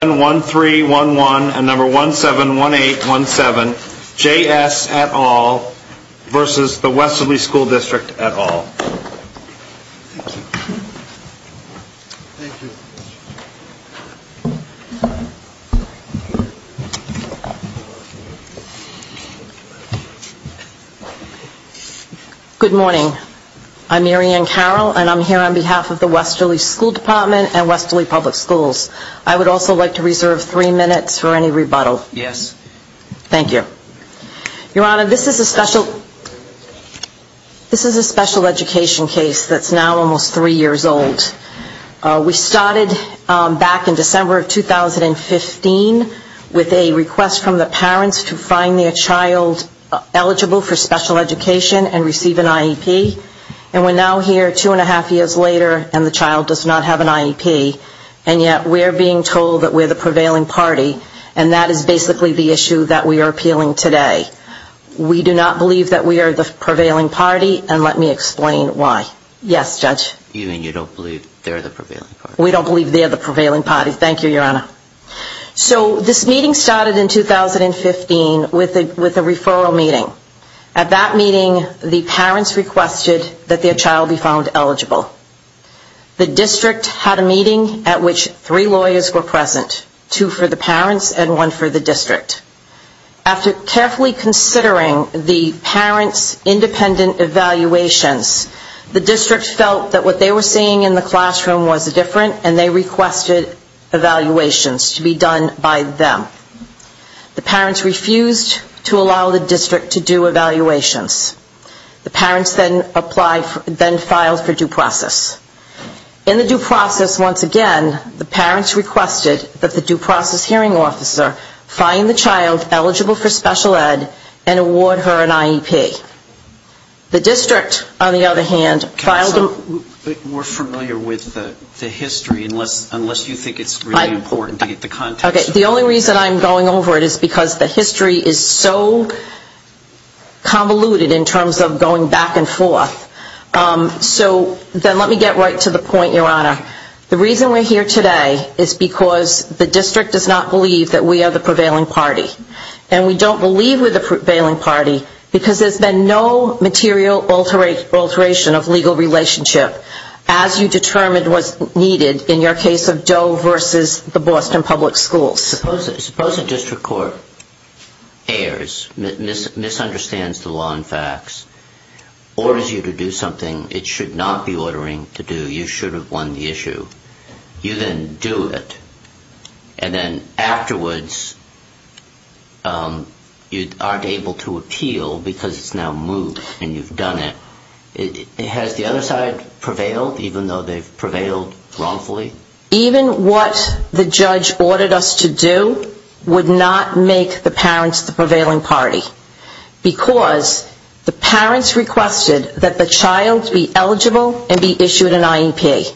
at All. Good morning. I'm Mary Ann Carroll and I'm here on behalf of the Westerly School Department and Westerly Public Schools. I would also like to reserve three minutes for any rebuttal. Yes. Thank you. Your Honor, this is a special education case that's now almost three years old. We started back in December of 2015 with a request from the parents to find their child eligible for special education and receive an IEP. And we're now here two and a half years later and the child does not have an IEP and yet we're being told that we're the prevailing party and that is basically the issue that we are appealing today. We do not believe that we are the prevailing party and let me explain why. Yes, Judge. You mean you don't believe they're the prevailing party? We don't believe they're the prevailing party. Thank you, Your Honor. So this meeting started in 2015 with a referral meeting. At that meeting, the parents requested that their child be found eligible. The district had a meeting at which three lawyers were present, two for the parents and one for the district. After carefully considering the parents' independent evaluations, the district felt that what they were seeing in the classroom was different and they requested evaluations to be done by them. The parents refused to allow the child for due process. In the due process, once again, the parents requested that the due process hearing officer find the child eligible for special ed and award her an IEP. The district, on the other hand, filed a... We're familiar with the history unless you think it's really important to get the context. The only reason I'm going over it is because the history is so convoluted in terms of going back and forth. So then let me get right to the point, Your Honor. The reason we're here today is because the district does not believe that we are the prevailing party. And we don't believe we're the prevailing party because there's been no material alteration of legal relationship as you determined was needed in your case of Doe versus the Boston Public Schools. Suppose a district court errs, misunderstands the law and facts, orders you to do something it should not be ordering to do, you should have won the issue. You then do it. And then afterwards you aren't able to appeal because it's now moved and you've done it. Has the other side prevailed even though they've prevailed wrongfully? Even what the judge ordered us to do would not make the parents the prevailing party. Because the parents requested that the child be eligible and be issued an IEP.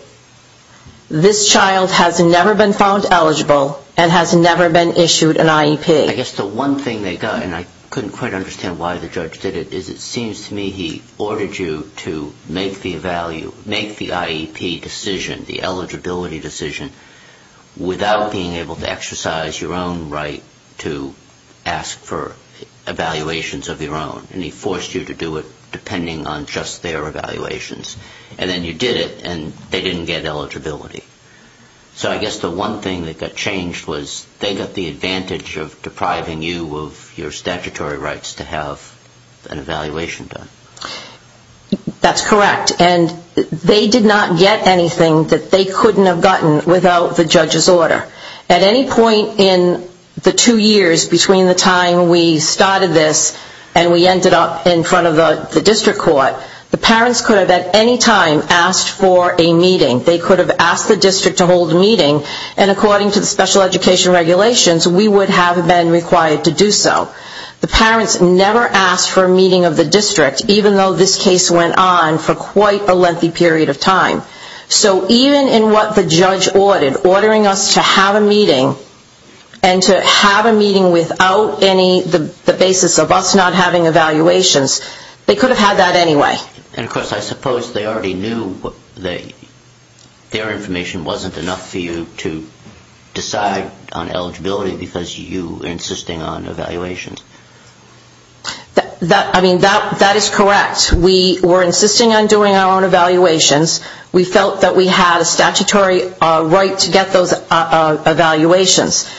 This child has never been found eligible and has never been issued an IEP. I guess the one thing they got, and I couldn't quite understand why the judge did it, is it seems to me he ordered you to make the IEP decision, the eligibility decision, without being able to exercise your own right to ask for evaluations of your own. And he forced you to do it depending on just their evaluations. And then you did it and they didn't get eligibility. So I guess the one thing that got changed was they got the advantage of depriving you of your statutory rights to have an evaluation done. That's correct. And they did not get anything that they couldn't have gotten without the judge's order. At any point in the two years between the time we started this and we ended up in front of the district court, the parents could have at any time asked for a meeting. They could have asked the district to hold a meeting. And according to the special education regulations, we would have been required to do so. The parents never asked for a meeting of the district, even though this case went on for quite a lengthy period of time. So even in what the judge ordered, ordering us to have a meeting, and to have a meeting without any, the basis of us not having evaluations, they could have had that anyway. And of course I suppose they already knew their information wasn't enough for you to decide on eligibility because you were insisting on evaluations. I mean, that is correct. We were insisting on doing our own evaluations. We felt that we had a statutory right to get those evaluations.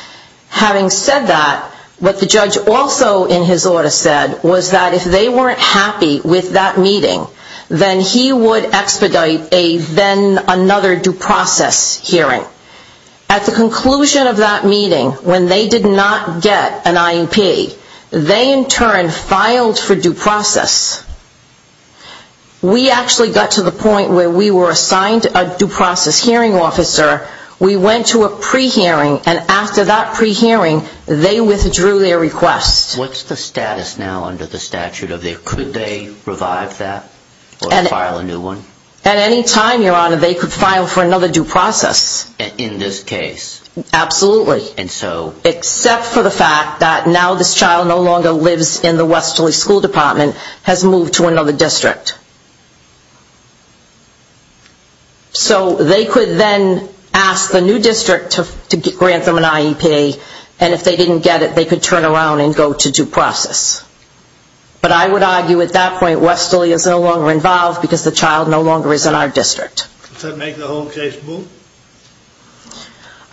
Having said that, what the judge also in his order said was that if they weren't happy with that meeting, then he would expedite a then another due process hearing. At the conclusion of that meeting, when they did not get an IEP, they in turn filed for due process. We actually got to the point where we were assigned a due process hearing officer. We went to a pre-hearing and after that pre-hearing, they withdrew their request. What is the status now under the statute? Could they revive that or file a new one? At any time, Your Honor, they could file for another due process. In this case? Absolutely. And so? Except for the fact that now this child no longer lives in the Westerly School Department, has moved to another district. So they could then ask the new district to grant them an IEP and if they didn't get it, they could turn around and go to due process. But I would say that this child no longer is in our district. Does that make the whole case move?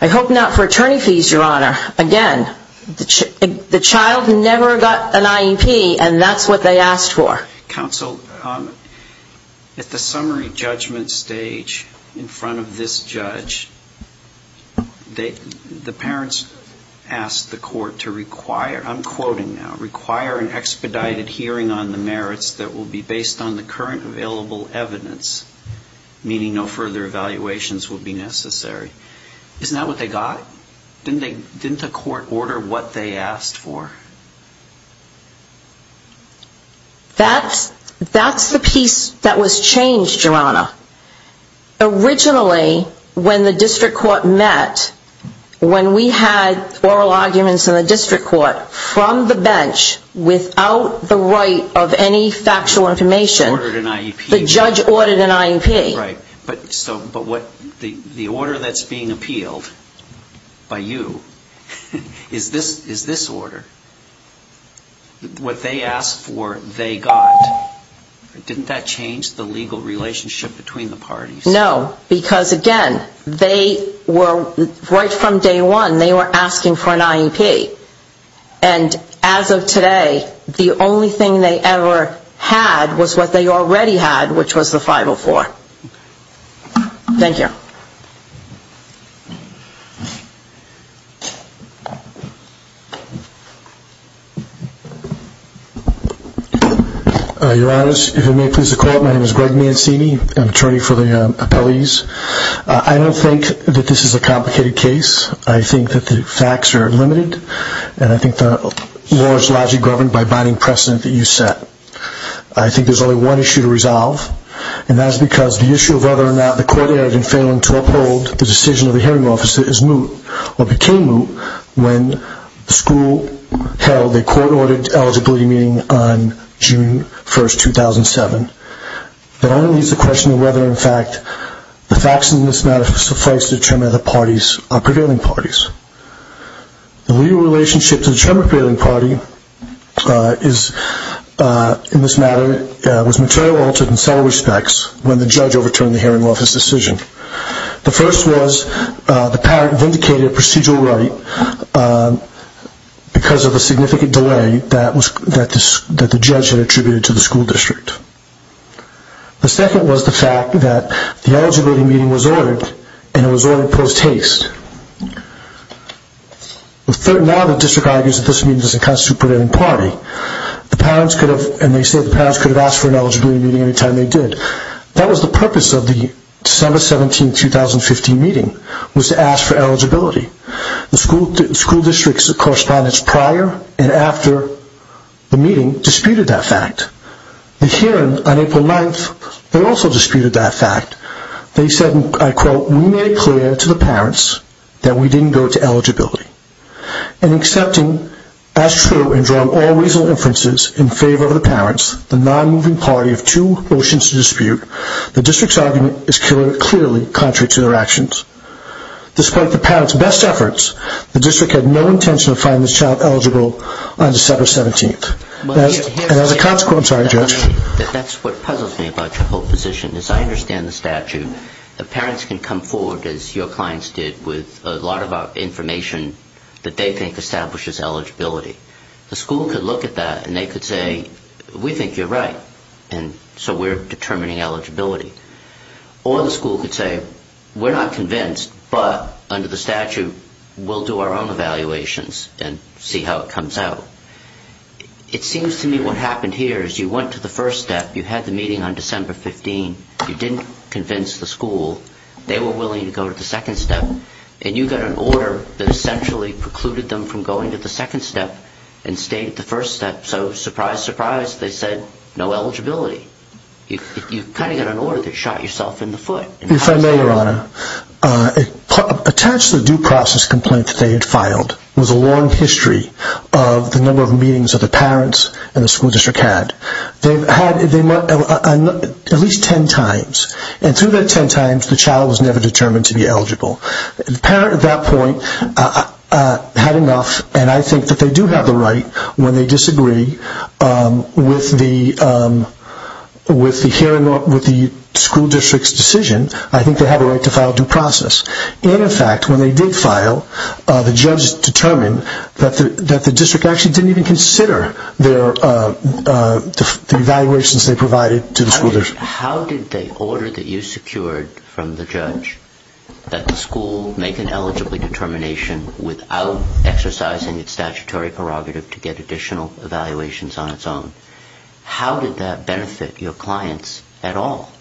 I hope not for attorney fees, Your Honor. Again, the child never got an IEP and that's what they asked for. Counsel, at the summary judgment stage in front of this judge, the parents asked the court to require, I'm quoting now, require an expedited hearing on the merits that will be based on the current available evidence, meaning no further evaluations will be necessary. Isn't that what they got? Didn't the court order what they asked for? That's the piece that was changed, Your Honor. Originally, when the district court met, when we had oral arguments in the district court from the bench without the right of any factual information, the judge ordered an IEP. But the order that's being appealed by you is this order. What they asked for, they got. Didn't that change the legal relationship between the parties? No, because again, right from day one, they were asking for an IEP. And as of today, the IEP was what they already had, which was the 504. Thank you. Your Honors, if you may please recall, my name is Greg Mancini. I'm an attorney for the appellees. I don't think that this is a complicated case. I think that the facts are limited and I think the law is largely governed by binding precedent that you set. I think there's only one issue to resolve, and that's because the issue of whether or not the court erred in failing to uphold the decision of the hearing officer is moot, or became moot, when the school held a court-ordered eligibility meeting on June 1st, 2007. That only leads to the question of whether, in fact, the facts in this matter suffice to determine that the parties are prevailing parties. The legal relationship to the term-repealing party is, in this matter, was material altered in several respects when the judge overturned the hearing office decision. The first was the parent vindicated a procedural right because of the significant delay that the judge had attributed to the school district. The second was the fact that the eligibility meeting was ordered, and it was ordered post-haste. Now the district argues that this meeting doesn't constitute a prevailing party. The parents could have asked for an eligibility meeting any time they did. That was the purpose of the December 17, 2015 meeting, was to ask for eligibility. The school district's correspondence prior and after the meeting disputed that fact. The hearing on April 9th, they also disputed that fact. They said, I quote, we made it clear to the parents that we didn't go to eligibility. In accepting as true and drawing all reasonable inferences in favor of the parents, the non-moving party of two motions to dispute, the district's argument is clearly contrary to their actions. Despite the parents' best efforts, the district had no intention of finding this child eligible on December 17th, and as a consequence, I'm sorry, Judge. That's what puzzles me about your whole position. As I understand the statute, the parents can come forward, as your clients did, with a lot of information that they think establishes eligibility. The school could look at that and they could say, we think you're right, and so we're determining eligibility. Or the school could say, we're not convinced, but under the statute, we'll do our own evaluations and see how it comes out. It seems to me what happened here is you went to the first step. You had the meeting on December 15. You didn't convince the school. They were willing to go to the second step. And you got an order that essentially precluded them from going to the second step and stayed at the first step. So surprise, surprise, they said, no eligibility. You kind of got an order that shot yourself in the foot. If I may, Your Honor, attached to the due process complaint that they had filed was a long history of the number of meetings that the parents and the school district had. They had at least 10 times, and through that 10 times, the child was never determined to be eligible. The parent at that point had enough, and I think that they do have the right when they disagree with the school district's decision, I think they have a right to file due process. In effect, when they did file, the judge determined that the district actually didn't even consider the evaluations they provided to the school district. How did they order that you secured from the judge that the school make an eligibility determination without exercising its statutory prerogative to get additional evaluations on its own? How did that benefit your clients at all?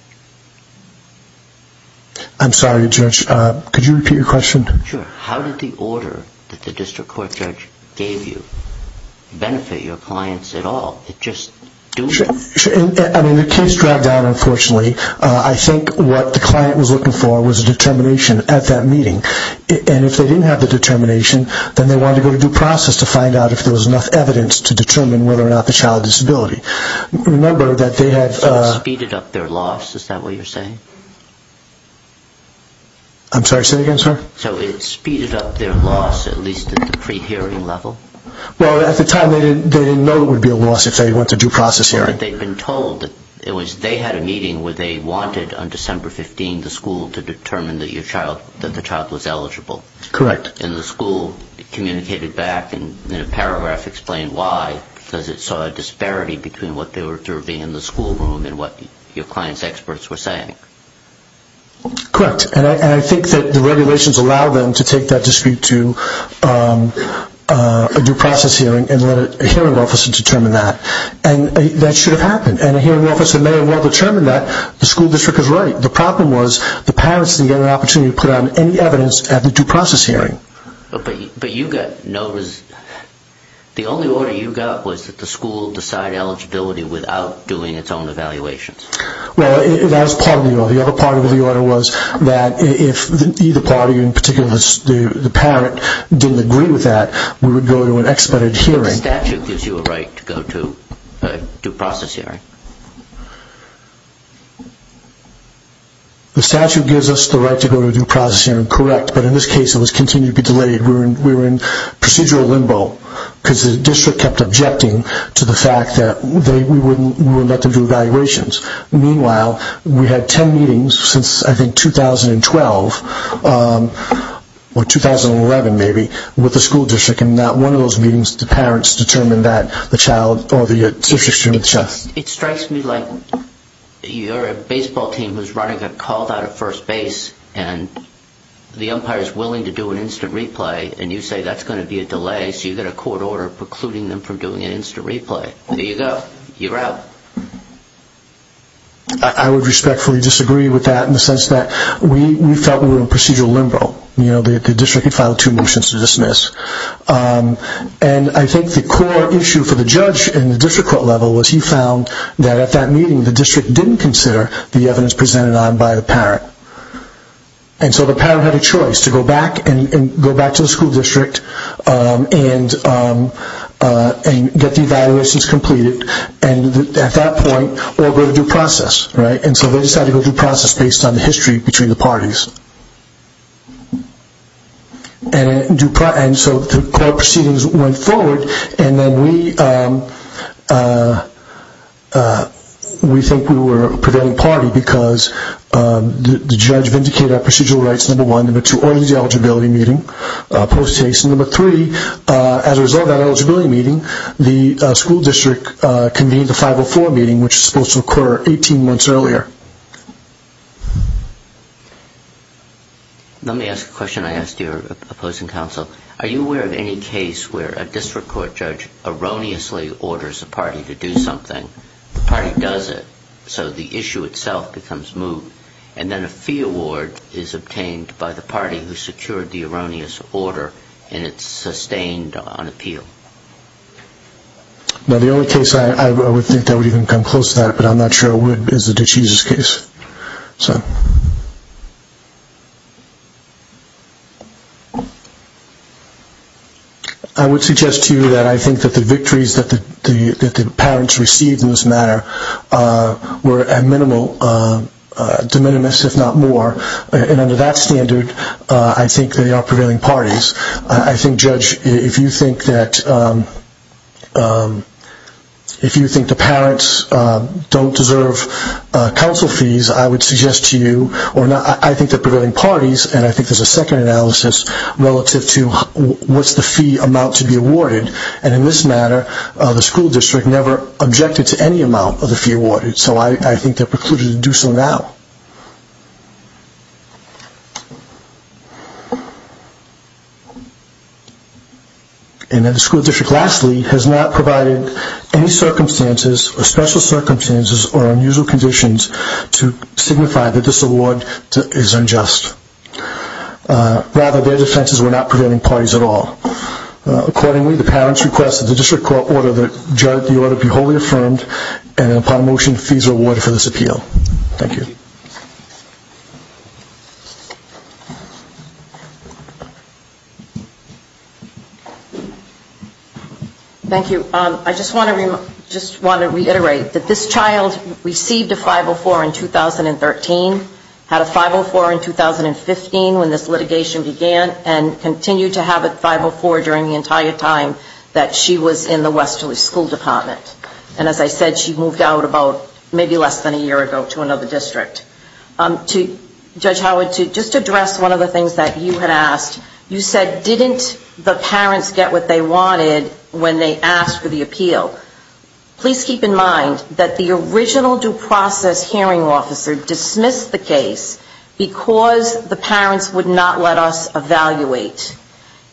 I'm sorry, Judge. Could you repeat your question? Sure. How did the order that the district court judge gave you benefit your clients at all? It just doomed them? I mean, the case dragged on, unfortunately. I think what the client was looking for was a determination at that meeting, and if they didn't have the determination, then they wanted to go to due process to find out if there was enough evidence to determine whether or not the child had a disability. Remember that they had... So it speeded up their loss, is that what you're saying? I'm sorry, say that again, sir? So it speeded up their loss, at least at the pre-hearing level? Well, at the time, they didn't know it would be a loss if they went to due process hearing. But they'd been told that they had a meeting where they wanted, on December 15, the school to determine that the child was eligible. Correct. And the school communicated back, and in a paragraph explained why, because it saw a disparity between what they were observing in the school room and what your client's experts were saying. Correct. And I think that the regulations allow them to take that dispute to a due process hearing and let a hearing officer determine that. And that should have happened. And a hearing officer may have well determined that the school district is right. The problem was the parents didn't get an opportunity to put down any evidence at the due process hearing. But you got notice... The only order you got was that the school decide eligibility without doing its own evaluations. Well, that was part of the order. The other part of the order was that if either party, in particular the parent, didn't agree with that, we would go to an expedited hearing. The statute gives you a right to go to a due process hearing. The statute gives us the right to go to a due process hearing. Correct. But in this case it was continued to be delayed. We were in procedural limbo because the district kept objecting to the fact that we wouldn't let them do evaluations. Meanwhile, we had ten meetings since, I think, 2012, or 2011 maybe, with the school district. And at one of those meetings the parents determined that the child or the district student... It strikes me like you're a baseball team who's running a called out at first base and the umpire is willing to do an instant replay and you say that's going to be a delay so you get a court order precluding them from doing an instant replay. There you go. You're out. I would respectfully disagree with that in the sense that we felt we were in procedural limbo. The district had filed two motions to dismiss. And I think the core issue for the judge in the district court level was he found that at that meeting the district didn't consider the evidence presented on by the parent. And so the parent had a choice to go back and go back to the school district and get the evaluations completed and at that point or go to due process. And so they decided to go to due process based on the history between the parties. And so the court proceedings went forward and then we think we were a prevailing party because the judge vindicated our procedural rights, number one. Number two, organized the eligibility meeting. Number three, as a result of that eligibility meeting the school district convened a 504 meeting which was supposed to occur 18 months earlier. Let me ask a question I asked your opposing counsel. Are you aware of any case where a district court judge erroneously orders a party to do something, the party does it, so the issue itself becomes moot, and then a fee award is obtained by the party who secured the erroneous order and it's sustained on appeal? Now the only case I would think that would even come close to that, but I'm not sure would be the DeJesus case. I would suggest to you that I think that the victories that the parents received in this matter were at minimal, de minimis if not more, and under that standard I think they are prevailing parties. I think judge, if you think that, if you think the parents don't deserve counsel fees, I would suggest to you, I think they are prevailing parties and I think there is a second analysis relative to what's the fee amount to be awarded, and in this matter the school district never objected to any amount of the fee awarded, so I think they are precluded to do so now. And then the school district lastly has not provided any circumstances or special circumstances or unusual conditions to signify that this award is unjust. Rather their defenses were not prevailing parties at all. Accordingly the parents request that the district court order the judge the order be wholly affirmed and upon a motion fees are awarded for this case. Thank you. I just want to reiterate that this child received a 504 in 2013, had a 504 in 2015 when this litigation began, and continued to have a 504 during the entire time that she was in the Westerly School Department. And as I said, she moved out about maybe less than a year ago to another district. Judge Howard, to just address one of the things that you had asked, you said didn't the parents get what they wanted when they asked for the appeal? Please keep in mind that the original due process hearing officer dismissed the case because the parents would not let us evaluate.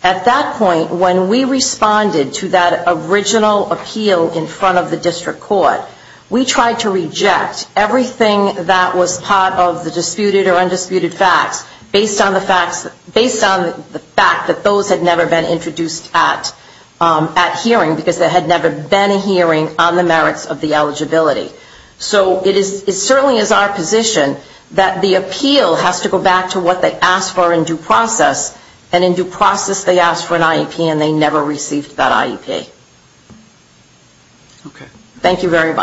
At that point when we responded to that original appeal in front of the district court, we tried to reject everything that was part of the disputed or undisputed facts based on the fact that those had never been introduced at hearing because there had never been a hearing on the merits of the eligibility. So it certainly is our position that the appeal has to go back to what they asked for in due process, and in due process they asked for an IEP and they never received that IEP. Thank you very much.